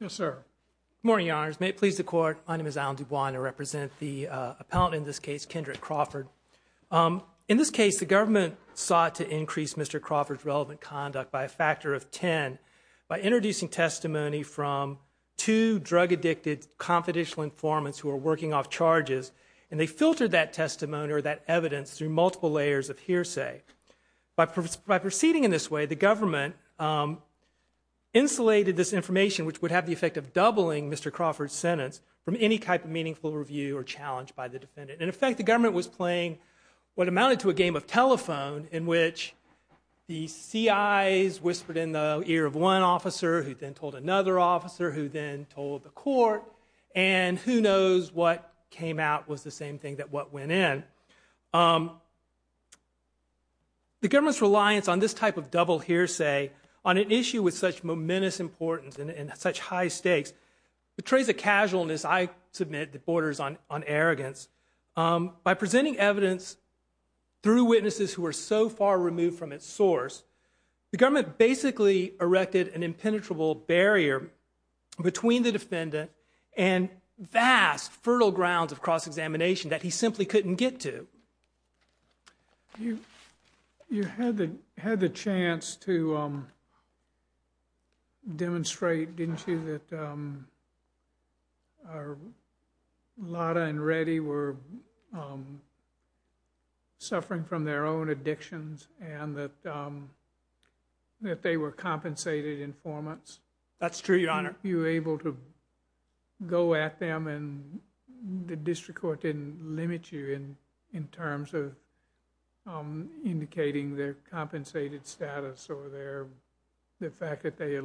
Good morning, your honors. May it please the court, my name is Alan Dubois and I represent the appellant in this case, Kendrick Crawford. In this case, the government sought to increase Mr. Crawford's relevant conduct by a factor of 10 by introducing testimony from two drug addicted confidential informants who were working off charges and they filtered that proceeding in this way, the government insulated this information which would have the effect of doubling Mr. Crawford's sentence from any type of meaningful review or challenge by the defendant. In effect, the government was playing what amounted to a game of telephone in which the C.I.'s whispered in the ear of one officer who then told another officer who then told the court and who knows what came out was the same thing that went in. The government's reliance on this type of double hearsay on an issue with such momentous importance and such high stakes betrays a casualness I submit that borders on arrogance. By presenting evidence through witnesses who are so far removed from its source, the government basically erected an impenetrable barrier between the defendant and vast fertile grounds of cross-examination that he simply couldn't get to. You had the chance to demonstrate, didn't you, that Lotta and Reddy were suffering from their own addictions and that they were compensated informants. That's true, Your Honor. Weren't you able to go at them and the district court didn't limit you in terms of indicating their compensated status or the fact that they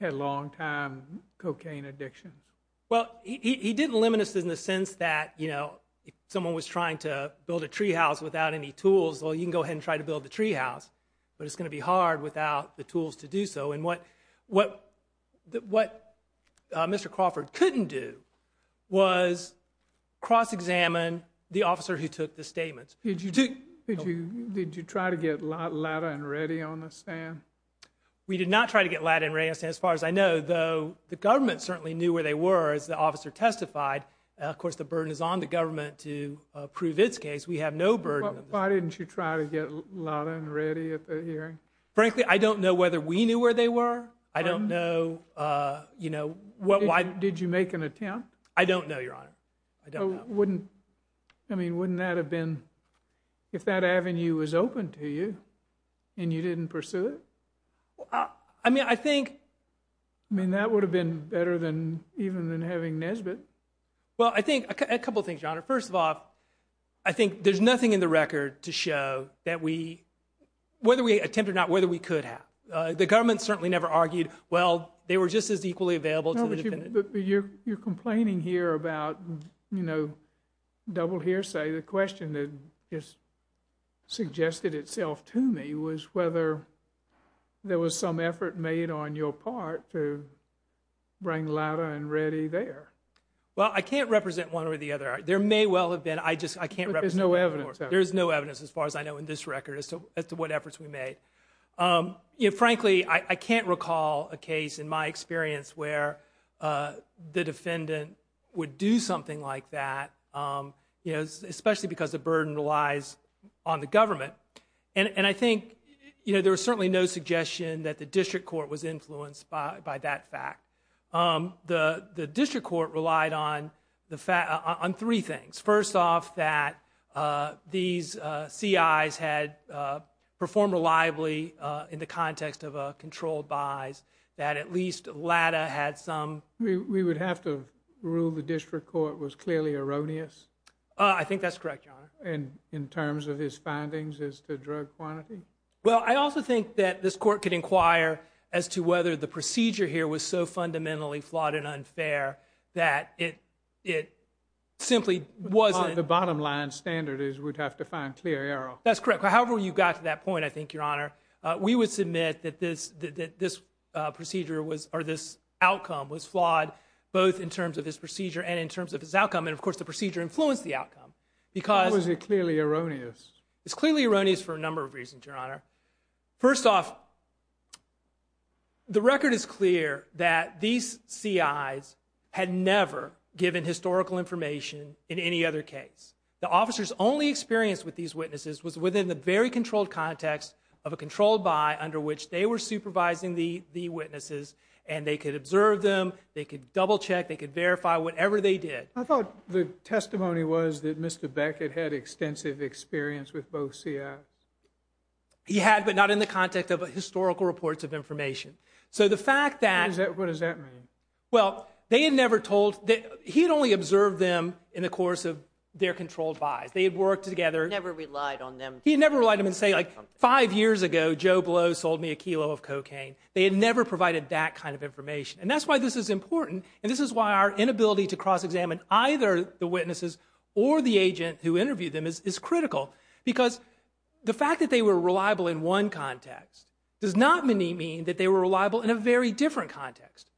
had long-time cocaine addictions? Well, he didn't limit us in the sense that if someone was trying to build a treehouse without any tools, well, you can go ahead and try to build a treehouse, but it's going to be hard without the tools to do so, and what Mr. Crawford couldn't do was cross-examine the officer who took the statements. Did you try to get Lotta and Reddy on the stand? We did not try to get Lotta and Reddy on the stand. As far as I know, though, the government certainly knew where they were as the officer testified. Of course, the burden is on the government to prove its case. We have no burden. Why didn't you try to get Lotta and Reddy at the hearing? Frankly, I don't know whether we knew where they were. I don't know, you know, why— Did you make an attempt? I don't know, Your Honor. I don't know. Wouldn't—I mean, wouldn't that have been—if that avenue was open to you and you didn't pursue it? I mean, I think— I mean, that would have been better than even than having Nesbitt. Well, I think—a couple things, Your Honor. First of all, I think there's nothing in the record to show that we—whether we attempted or not, whether we could have. The government certainly never argued, well, they were just as equally available to the defendant. No, but you're complaining here about, you know, double hearsay. The question that has suggested itself to me was whether there was some effort made on your part to bring Lotta and Reddy there. Well, I can't represent one way or the other. There may well have been. I just—I can't represent— But there's no evidence. There's no evidence as far as I know in this record as to what efforts we made. You know, frankly, I can't recall a case in my experience where the defendant would do something like that, you know, especially because the burden relies on the government. And I think, you know, there was certainly no suggestion that the district court was influenced by that fact. The district court relied on three things. First off, that these C.I.s had performed reliably in the context of controlled buys, that at least Lotta had some— We would have to rule the district court was clearly erroneous? I think that's correct, Your Honor. In terms of his findings as to drug quantity? Well, I also think that this court could inquire as to whether the procedure here was so fun fundamentally flawed and unfair that it simply wasn't— The bottom line standard is we'd have to find clear error. That's correct. However you got to that point, I think, Your Honor, we would submit that this procedure was—or this outcome was flawed, both in terms of his procedure and in terms of his outcome. And, of course, the procedure influenced the outcome. Because— Or was it clearly erroneous? It's clearly erroneous for a number of reasons, Your Honor. First off, the record is clear that these C.I.s had never given historical information in any other case. The officers' only experience with these witnesses was within the very controlled context of a controlled buy under which they were supervising the witnesses, and they could observe them, they could double-check, they could verify whatever they did. I thought the testimony was that Mr. Beckett had extensive experience with both C.I.s. He had, but not in the context of historical reports of information. So the fact that— What does that mean? Well, they had never told—he had only observed them in the course of their controlled buys. They had worked together— He never relied on them to— He had never relied on them to say, like, five years ago, Joe Blow sold me a kilo of cocaine. They had never provided that kind of information. And that's why this is important, and this is why our inability to cross-examine either the witnesses or the agent who interviewed them is critical, because the fact that they were reliable in one context does not mean that they were reliable in a very different context.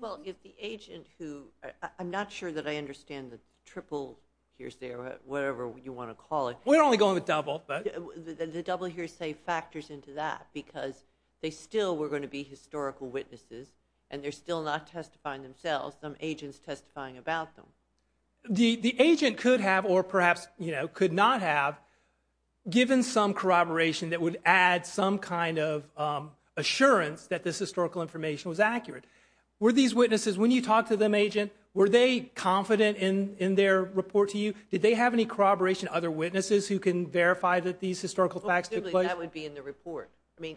Well, if the agent who—I'm not sure that I understand the triple hearsay or whatever you want to call it. We're only going with double, but— The double hearsay factors into that, because they still were going to be historical witnesses, and they're still not testifying themselves, some agents testifying about them. The agent could have, or perhaps could not have, given some corroboration that would add some kind of assurance that this historical information was accurate. Were these witnesses, when you talked to them, agent, were they confident in their report to you? Did they have any corroboration, other witnesses who can verify that these historical facts Well, presumably, that would be in the report. I mean,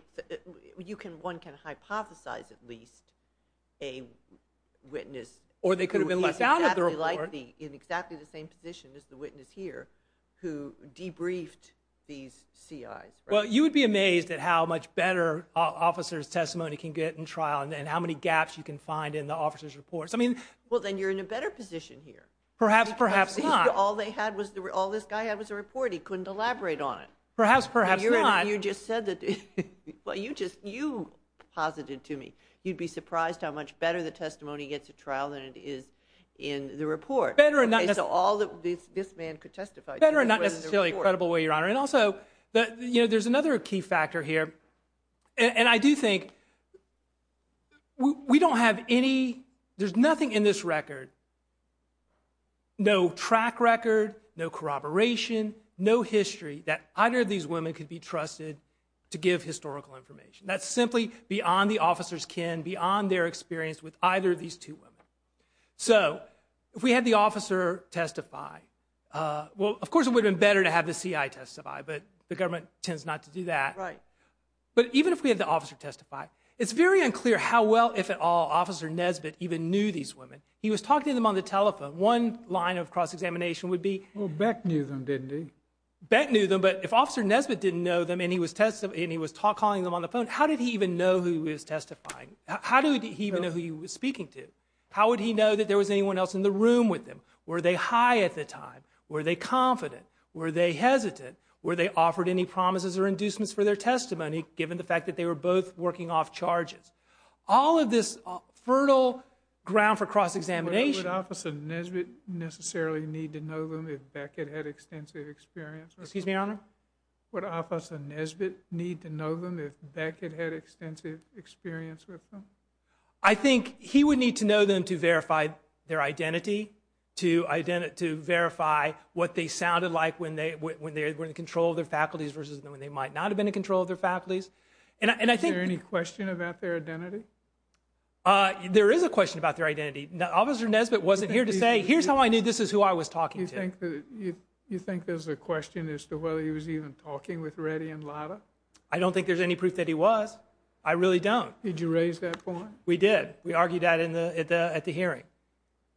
one can hypothesize, at least, a witness— Or they could have been left out of the report. In exactly the same position as the witness here, who debriefed these CIs. Well, you would be amazed at how much better officers' testimony can get in trial, and how many gaps you can find in the officers' reports. I mean— Well, then you're in a better position here. Perhaps, perhaps not. All they had was—all this guy had was a report. He couldn't elaborate on it. Perhaps, perhaps not. You just said that—well, you just, you posited to me, you'd be surprised how much better the testimony gets at trial than it is in the report. Better and not necessarily— So all that this man could testify to was in the report. Better and not necessarily credible, Your Honor. And also, you know, there's another key factor here, and I do think we don't have any—there's nothing in this record, no track record, no corroboration, no history that either of these women could be trusted to give historical information. That's simply beyond the officer's kin, beyond their experience with either of these two women. So if we had the officer testify—well, of course, it would have been better to have the CI testify, but the government tends not to do that. But even if we had the officer testify, it's very unclear how well, if at all, Officer Nesbitt even knew these women. He was talking to them on the telephone. One line of cross-examination would be— Well, Beck knew them, didn't he? Beck knew them, but if Officer Nesbitt didn't know them and he was calling them on the phone, how did he even know who he was testifying? How did he even know who he was speaking to? How would he know that there was anyone else in the room with him? Were they high at the time? Were they confident? Were they hesitant? Were they offered any promises or inducements for their testimony, given the fact that they were both working off charges? All of this fertile ground for cross-examination— If Beck had had extensive experience with them— Excuse me, Your Honor? Would Officer Nesbitt need to know them if Beck had had extensive experience with them? I think he would need to know them to verify their identity, to identify—to verify what they sounded like when they were in control of their faculties versus when they might not have been in control of their faculties. And I think— Is there any question about their identity? There is a question about their identity. Officer Nesbitt wasn't here to say, here's how I knew this is who I was talking to. Do you think there's a question as to whether he was even talking with Reddy and Latta? I don't think there's any proof that he was. I really don't. Did you raise that point? We did. We argued that at the hearing.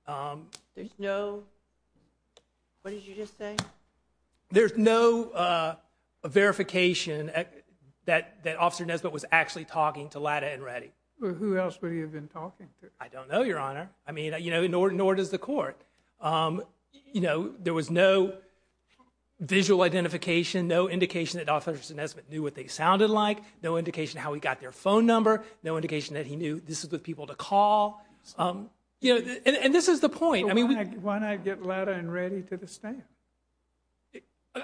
There's no—what did you just say? There's no verification that Officer Nesbitt was actually talking to Latta and Reddy. Who else would he have been talking to? I don't know, Your Honor. I mean, you know, nor does the court. You know, there was no visual identification, no indication that Officer Nesbitt knew what they sounded like, no indication how he got their phone number, no indication that he knew this was with people to call. And this is the point. Why not get Latta and Reddy to the stand?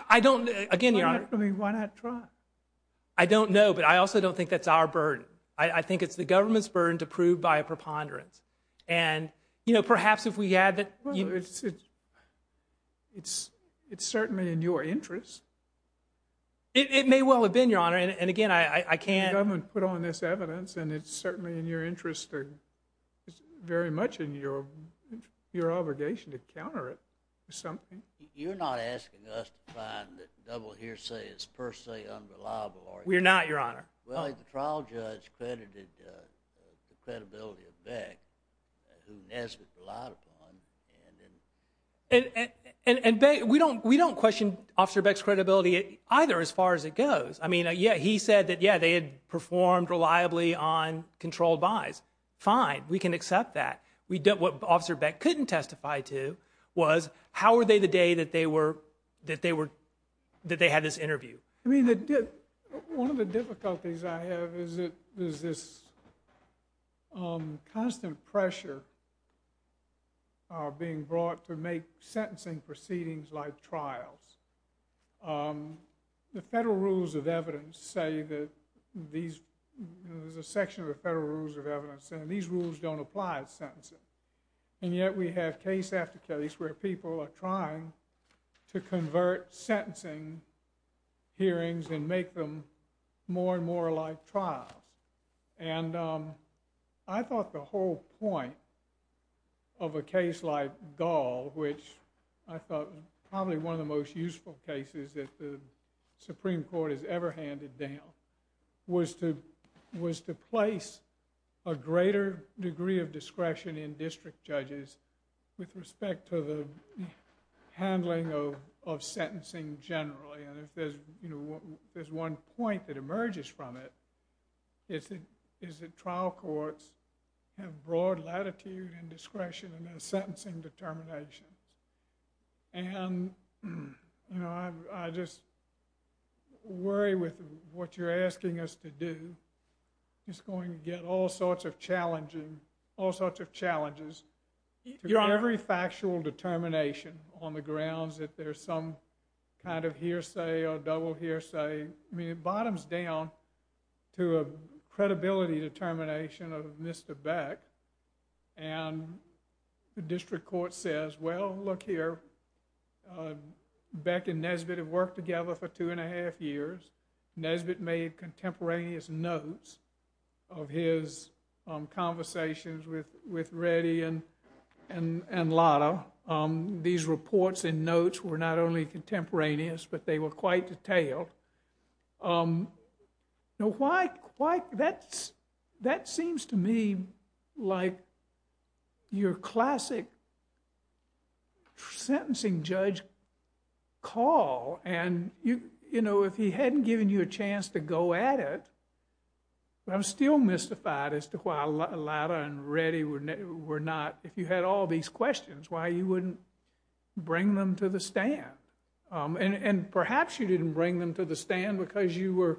I don't— I mean, why not try? I don't know, but I also don't think that's our burden. I think it's the government's burden to prove by a preponderance. And you know, perhaps if we had— Well, it's certainly in your interest. It may well have been, Your Honor. And again, I can't— The government put on this evidence, and it's certainly in your interest or very much in your obligation to counter it or something. You're not asking us to find that the double hearsay is per se unreliable, are you? We're not, Your Honor. Well, I think the trial judge credited the credibility of Beck, who Nesbitt relied upon. And we don't question Officer Beck's credibility either, as far as it goes. I mean, yeah, he said that, yeah, they had performed reliably on controlled buys. Fine. We can accept that. What Officer Beck couldn't testify to was, how were they the day that they were—that they had this interview? I mean, one of the difficulties I have is this constant pressure being brought to make sentencing proceedings like trials. The federal rules of evidence say that these—there's a section of the federal rules of evidence saying these rules don't apply to sentencing. And yet we have case after case where people are trying to convert sentencing hearings and make them more and more like trials. And I thought the whole point of a case like Gall, which I thought was probably one of the most useful cases that the Supreme Court has ever handed down, was to place a greater degree of discretion in district judges with respect to the handling of sentencing generally. And if there's one point that emerges from it, it's that trial courts have broad latitude and discretion in their sentencing determinations. And I just worry with what you're asking us to do, it's going to get all sorts of challenging, all sorts of challenges to every factual determination on the grounds that there's some kind of hearsay or double hearsay. I mean, it bottoms down to a credibility determination of Mr. Beck, and the district court says, well, look here, Beck and Nesbitt have worked together for two and a half years. Nesbitt made contemporaneous notes of his conversations with Reddy and Latta. These reports and notes were not only contemporaneous, but they were quite detailed. Now, that seems to me like your classic sentencing judge call. And, you know, if he hadn't given you a chance to go at it, I'm still mystified as to why Latta and Reddy were not, if you had all these questions, why you wouldn't bring them to the stand. And perhaps you didn't bring them to the stand because you were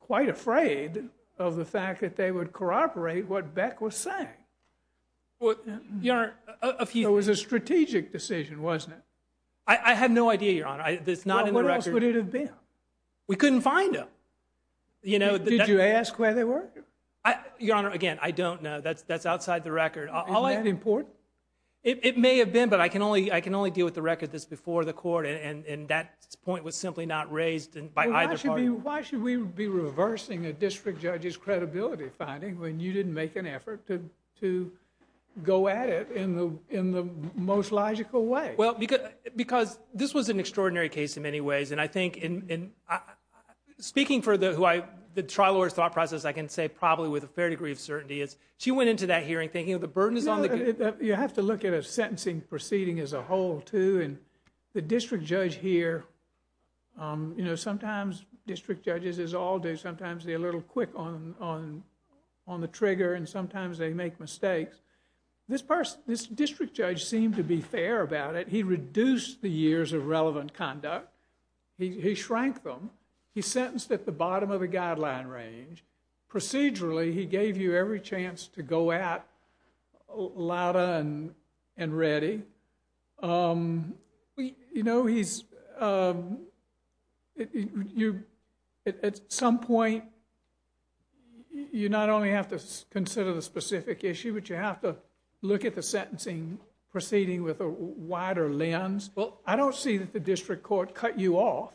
quite afraid of the fact that they would corroborate what Beck was saying. Well, Your Honor, a few— It was a strategic decision, wasn't it? I have no idea, Your Honor. Well, where else would it have been? We couldn't find them. Did you ask where they were? Your Honor, again, I don't know. That's outside the record. Is that important? It may have been, but I can only deal with the record that's before the court, and that point was simply not raised by either party. Why should we be reversing a district judge's credibility finding when you didn't make an effort to go at it in the most logical way? Well, because this was an extraordinary case in many ways, and I think in— speaking for the trial lawyer's thought process, I can say probably with a fair degree of certainty is she went into that hearing thinking the burden is on the— You have to look at a sentencing proceeding as a whole, too, and the district judge here— you know, sometimes district judges, as all do, sometimes they're a little quick on the trigger, and sometimes they make mistakes. This person—this district judge seemed to be fair about it. He reduced the years of relevant conduct. He shrank them. He sentenced at the bottom of the guideline range. Procedurally, he gave you every chance to go at louder and ready. You know, he's— At some point, you not only have to consider the specific issue, but you have to look at the sentencing proceeding with a wider lens. I don't see that the district court cut you off.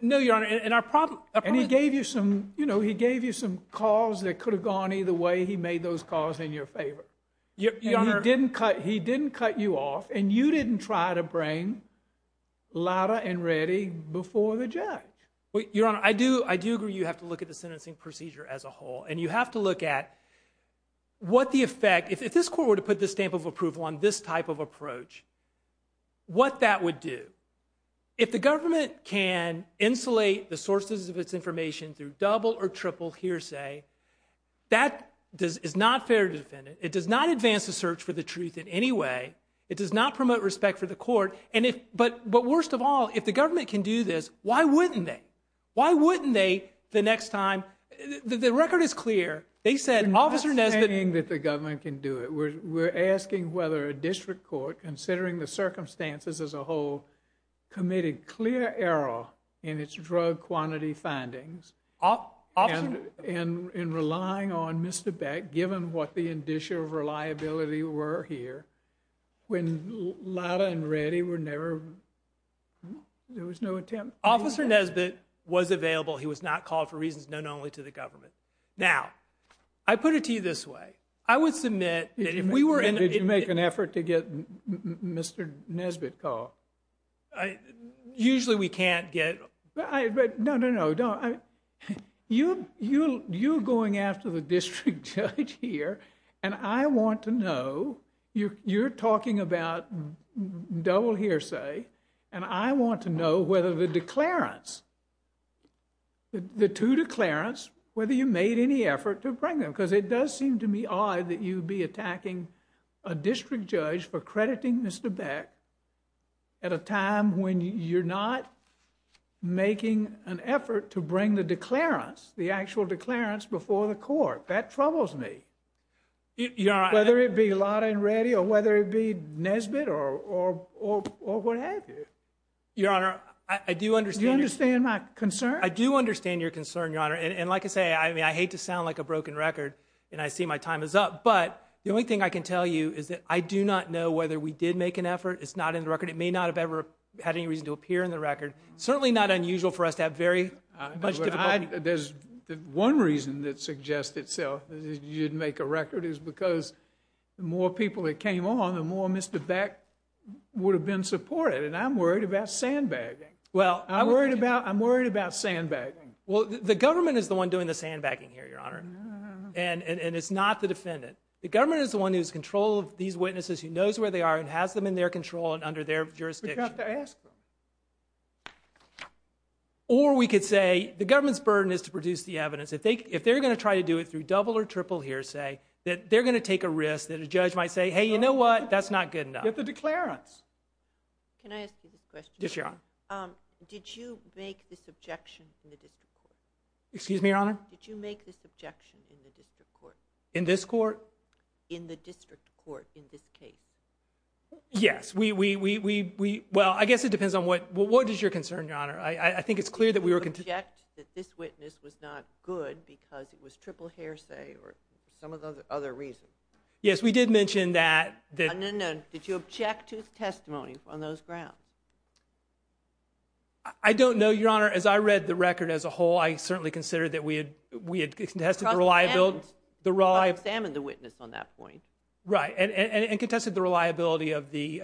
No, Your Honor, and our problem— And he gave you some—you know, he gave you some calls that could have gone either way. He made those calls in your favor. Your Honor— And he didn't cut you off, and you didn't try to bring louder and ready before the judge. Your Honor, I do agree you have to look at the sentencing procedure as a whole, and you have to look at what the effect— If this court were to put this stamp of approval on this type of approach, what that would do. If the government can insulate the sources of its information through double or triple hearsay, that is not fair to the defendant. It does not advance the search for the truth in any way. It does not promote respect for the court, but worst of all, if the government can do this, why wouldn't they? Why wouldn't they the next time—the record is clear. They said, Officer Nesbitt— We're not saying that the government can do it. We're asking whether a district court, considering the circumstances as a whole, committed clear error in its drug quantity findings, and in relying on Mr. Beck, given what the indicia of reliability were here, when louder and ready were never—there was no attempt— Officer Nesbitt was available. He was not called for reasons known only to the government. Now, I put it to you this way. I would submit that if we were in— Did you make an effort to get Mr. Nesbitt called? Usually we can't get— No, no, no, don't. You're going after the district judge here, and I want to know—you're talking about double hearsay, and I want to know whether the declarants, the two declarants, whether you made any effort to bring them, because it does seem to me odd that you'd be attacking a district judge for crediting Mr. Beck at a time when you're not making an effort to bring the declarants, the actual declarants, before the court. That troubles me. Whether it be louder and ready, or whether it be Nesbitt, or what have you. Your Honor, I do understand— Do you understand my concern? I do understand your concern, Your Honor, and like I say, I mean, I hate to sound like a broken record, and I see my time is up, but the only thing I can tell you is that I do not know whether we did make an effort. It's not in the record. It may not have ever had any reason to appear in the record. Certainly not unusual for us to have very much difficulty— There's one reason that suggests itself that you didn't make a record, is because the more people that came on, the more Mr. Beck would have been supported, and I'm worried about sandbagging. Well, I'm worried about sandbagging. Well, the government is the one doing the sandbagging here, Your Honor, and it's not the defendant. The government is the one who's in control of these witnesses, who knows where they are, and has them in their control and under their jurisdiction. But you have to ask them. Or we could say the government's burden is to produce the evidence. If they're going to try to do it through double or triple hearsay, they're going to take a risk that a judge might say, hey, you know what, that's not good enough. You have to declare it. Can I ask you this question? Yes, Your Honor. Did you make this objection in the district court? Excuse me, Your Honor? Did you make this objection in the district court? In this court? In the district court, in this case. Yes. Well, I guess it depends on what is your concern, Your Honor. I think it's clear that we were contending. Did you object that this witness was not good because it was triple hearsay or some of the other reasons? Yes, we did mention that. No, no, no. Did you object to his testimony on those grounds? I don't know, Your Honor. As I read the record as a whole, I certainly considered that we had contested the reliability. But examined the witness on that point. Right. And contested the reliability of the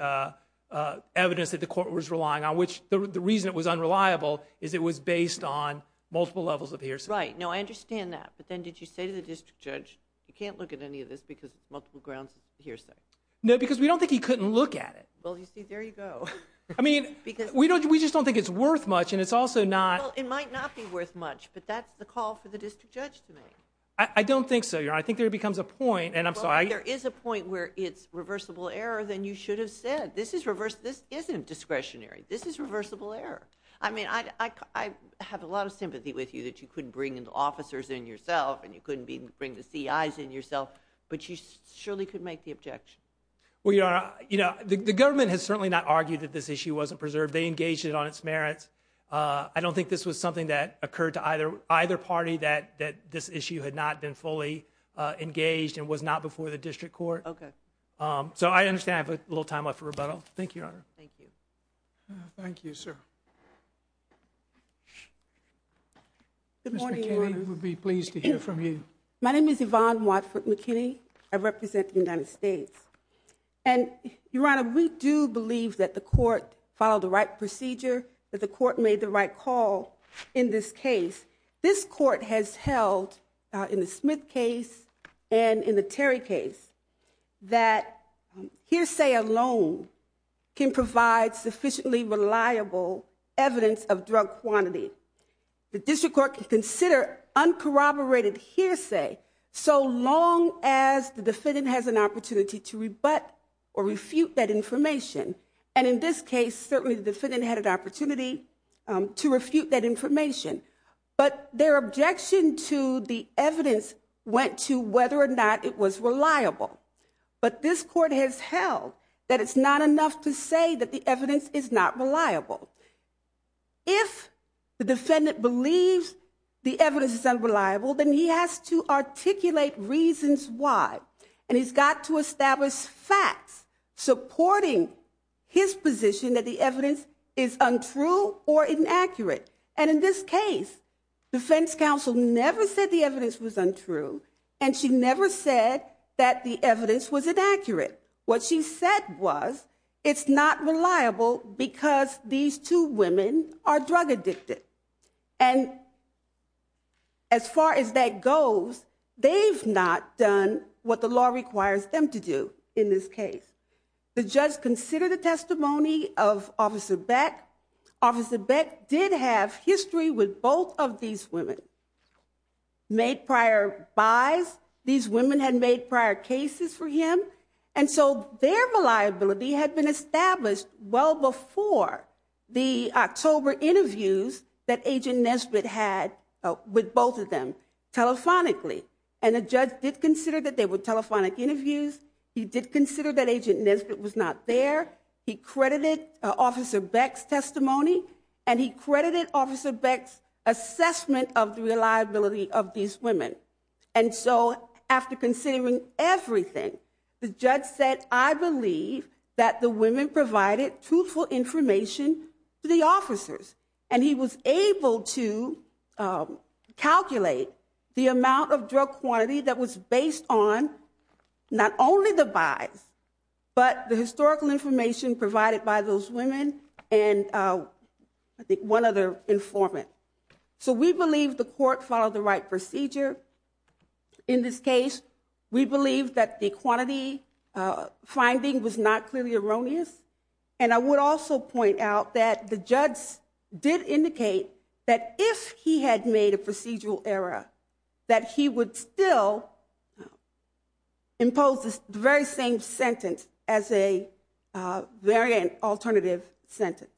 evidence that the court was relying on, which the reason it was unreliable is it was based on multiple levels of hearsay. Right. No, I understand that. But then did you say to the district judge, you can't look at any of this because multiple grounds of hearsay? No, because we don't think he couldn't look at it. Well, you see, there you go. I mean, we just don't think it's worth much. And it's also not. It might not be worth much. But that's the call for the district judge to make. I don't think so, Your Honor. I think there becomes a point. And I'm sorry. If there is a point where it's reversible error, then you should have said. This isn't discretionary. This is reversible error. I mean, I have a lot of sympathy with you that you couldn't bring in the officers in yourself. And you couldn't bring the CIs in yourself. But you surely could make the objection. Well, Your Honor, the government has certainly not argued that this issue wasn't preserved. They engaged it on its merits. I don't think this was something that occurred to either party, that this issue had not been fully engaged and was not before the district court. OK. So I understand I have a little time left for rebuttal. Thank you, Your Honor. Thank you. Thank you, sir. Good morning, Your Honor. We would be pleased to hear from you. My name is Yvonne Watford McKinney. I represent the United States. And Your Honor, we do believe that the court followed the right procedure, that the court made the right call in this case. This court has held, in the Smith case and in the Terry case, that hearsay alone can provide sufficiently reliable evidence of drug quantity. The district court can consider uncorroborated hearsay so long as the defendant has an opportunity to rebut or refute that information. And in this case, certainly the defendant had an opportunity to refute that information. But their objection to the evidence went to whether or not it was reliable. But this court has held that it's not enough to say that the evidence is not reliable. If the defendant believes the evidence is unreliable, then he has to articulate reasons why. And he's got to establish facts supporting his position that the evidence is untrue or inaccurate. And in this case, defense counsel never said the evidence was untrue. And she never said that the evidence was inaccurate. What she said was, it's not reliable because these two women are drug addicted. And as far as that goes, they've not done what the law requires them to do in this case. The judge considered the testimony of Officer Beck. Officer Beck did have history with both of these women. Made prior buys. These women had made prior cases for him. And so their reliability had been established well before the October interviews that Agent Nesbitt had with both of them telephonically. And the judge did consider that they were telephonic interviews. He did consider that Agent Nesbitt was not there. He credited Officer Beck's testimony. And he credited Officer Beck's assessment of the reliability of these women. And so after considering everything, the judge said, I believe that the women provided truthful information to the officers. And he was able to calculate the amount of drug quantity that was based on not only the buys, but the historical information provided by those women and, I think, one other informant. So we believe the court followed the right procedure. In this case, we believe that the quantity finding was not clearly erroneous. And I would also point out that the judge did indicate that if he had made a procedural error, that he would still impose the very same sentence as a variant, alternative sentence.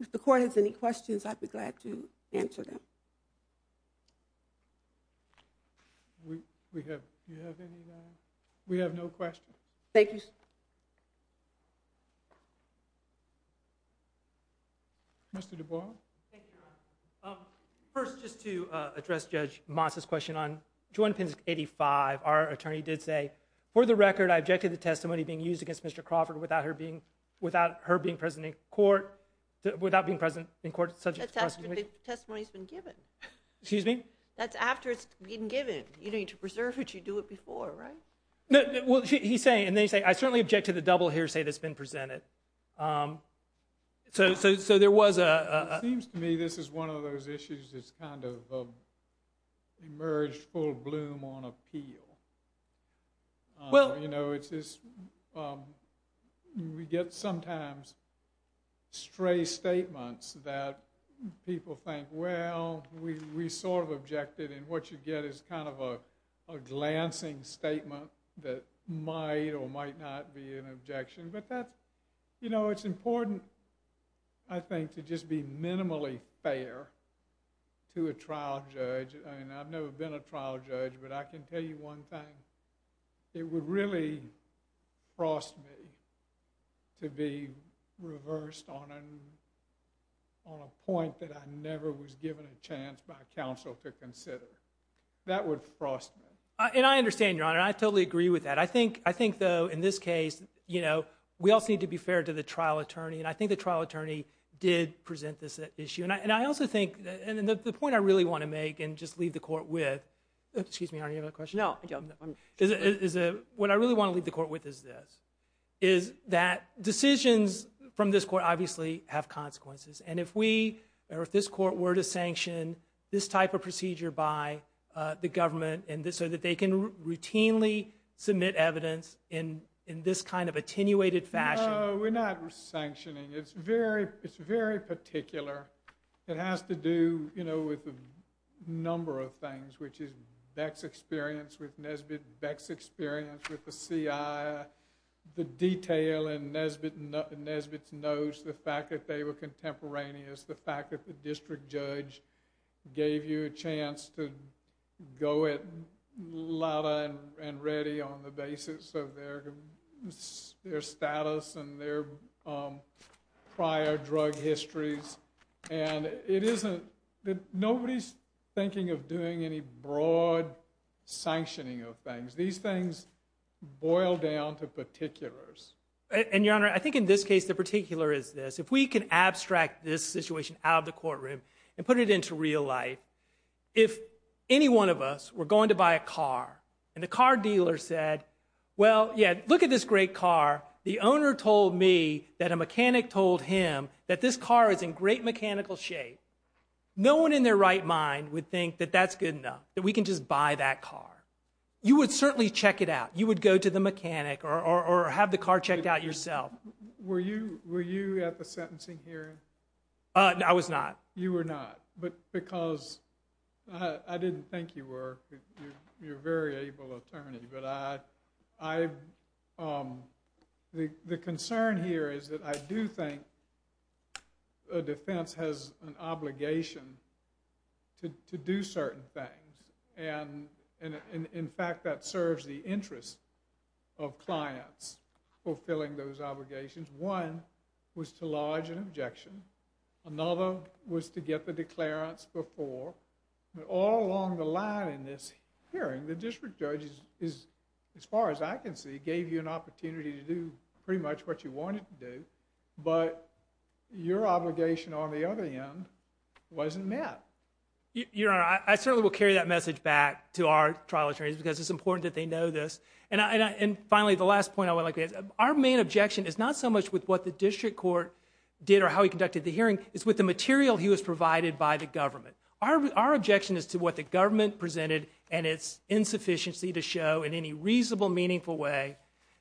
If the court has any questions, I'd be glad to answer them. We have no questions. Thank you. Mr. DuBois? Thank you, Your Honor. First, just to address Judge Moss's question on 21-85, our attorney did say, for the record, I objected to the testimony being used against Mr. Crawford without her being present in court, without being present in court subject to questioning. That's after the testimony's been given. Excuse me? That's after it's been given. You don't need to preserve it. You do it before, right? Well, he's saying, and then he's saying, I certainly object to the double hearsay that's been presented. So there was a- It seems to me this is one of those issues that's kind of emerged full bloom on appeal. We get sometimes stray statements that people think, well, we sort of objected. And what you get is kind of a glancing statement that might or might not be an objection. But that's, you know, it's important, I think, to just be minimally fair to a trial judge. And I've never been a trial judge, but I can tell you one thing. It would really frost me to be reversed on a point that I never was given a chance by counsel to consider. That would frost me. And I understand, Your Honor. I totally agree with that. I think, though, in this case, you know, we also need to be fair to the trial attorney. And I think the trial attorney did present this issue. And I also think, and the point I really want to make, and just leave the court with, excuse me, Your Honor, you have a question? No, I don't. What I really want to leave the court with is this, is that decisions from this court obviously have consequences. And if we, or if this court were to sanction this type of procedure by the government so that they can routinely submit evidence in this kind of attenuated fashion. No, we're not sanctioning. It's very particular. It has to do, you know, with a number of things, which is Beck's experience with Nesbitt, Beck's experience with the CIA, the detail in Nesbitt's notes, the fact that they were contemporaneous, the fact that the district judge gave you a chance to go it louder and ready on the basis of their status and their prior drug histories. And it isn't, nobody's thinking of doing any broad sanctioning of things. These things boil down to particulars. And Your Honor, I think in this case, the particular is this. If we can abstract this situation out of the courtroom and put it into real life, if any one of us were going to buy a car and the car dealer said, well, yeah, look at this great car. The owner told me that a mechanic told him that this car is in great mechanical shape. No one in their right mind would think that that's good enough, that we can just buy that car. You would certainly check it out. You would go to the mechanic or have the car checked out yourself. Were you at the sentencing hearing? I was not. You were not. But because, I didn't think you were. You're a very able attorney. But I, the concern here is that I do think a defense has an obligation to do certain things. And in fact, that serves the interest of clients fulfilling those obligations. One was to lodge an objection. Another was to get the declarants before. But all along the line in this hearing, the district judge is, as far as I can see, gave you an opportunity to do pretty much what you wanted to do. But your obligation on the other end wasn't met. Your Honor, I certainly will carry that message back to our trial attorneys because it's important that they know this. And finally, the last point I would like to make is our main objection is not so much with what the district court did or how he conducted the hearing, it's with the material he was provided by the government. Our objection is to what the government presented and its insufficiency to show in any reasonable, meaningful way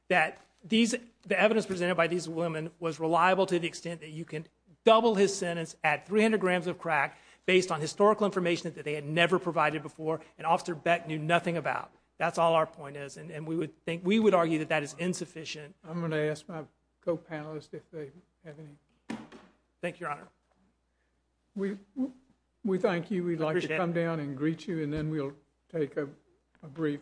that the evidence presented by these women was reliable to the extent that you can double his sentence at 300 grams of crack based on historical information that they had never provided before and Officer Beck knew nothing about. That's all our point is. And we would argue that that is insufficient. I'm going to ask my co-panelists if they have any... Thank you, Your Honor. We thank you. We'd like to come down and greet you and then we'll take a brief...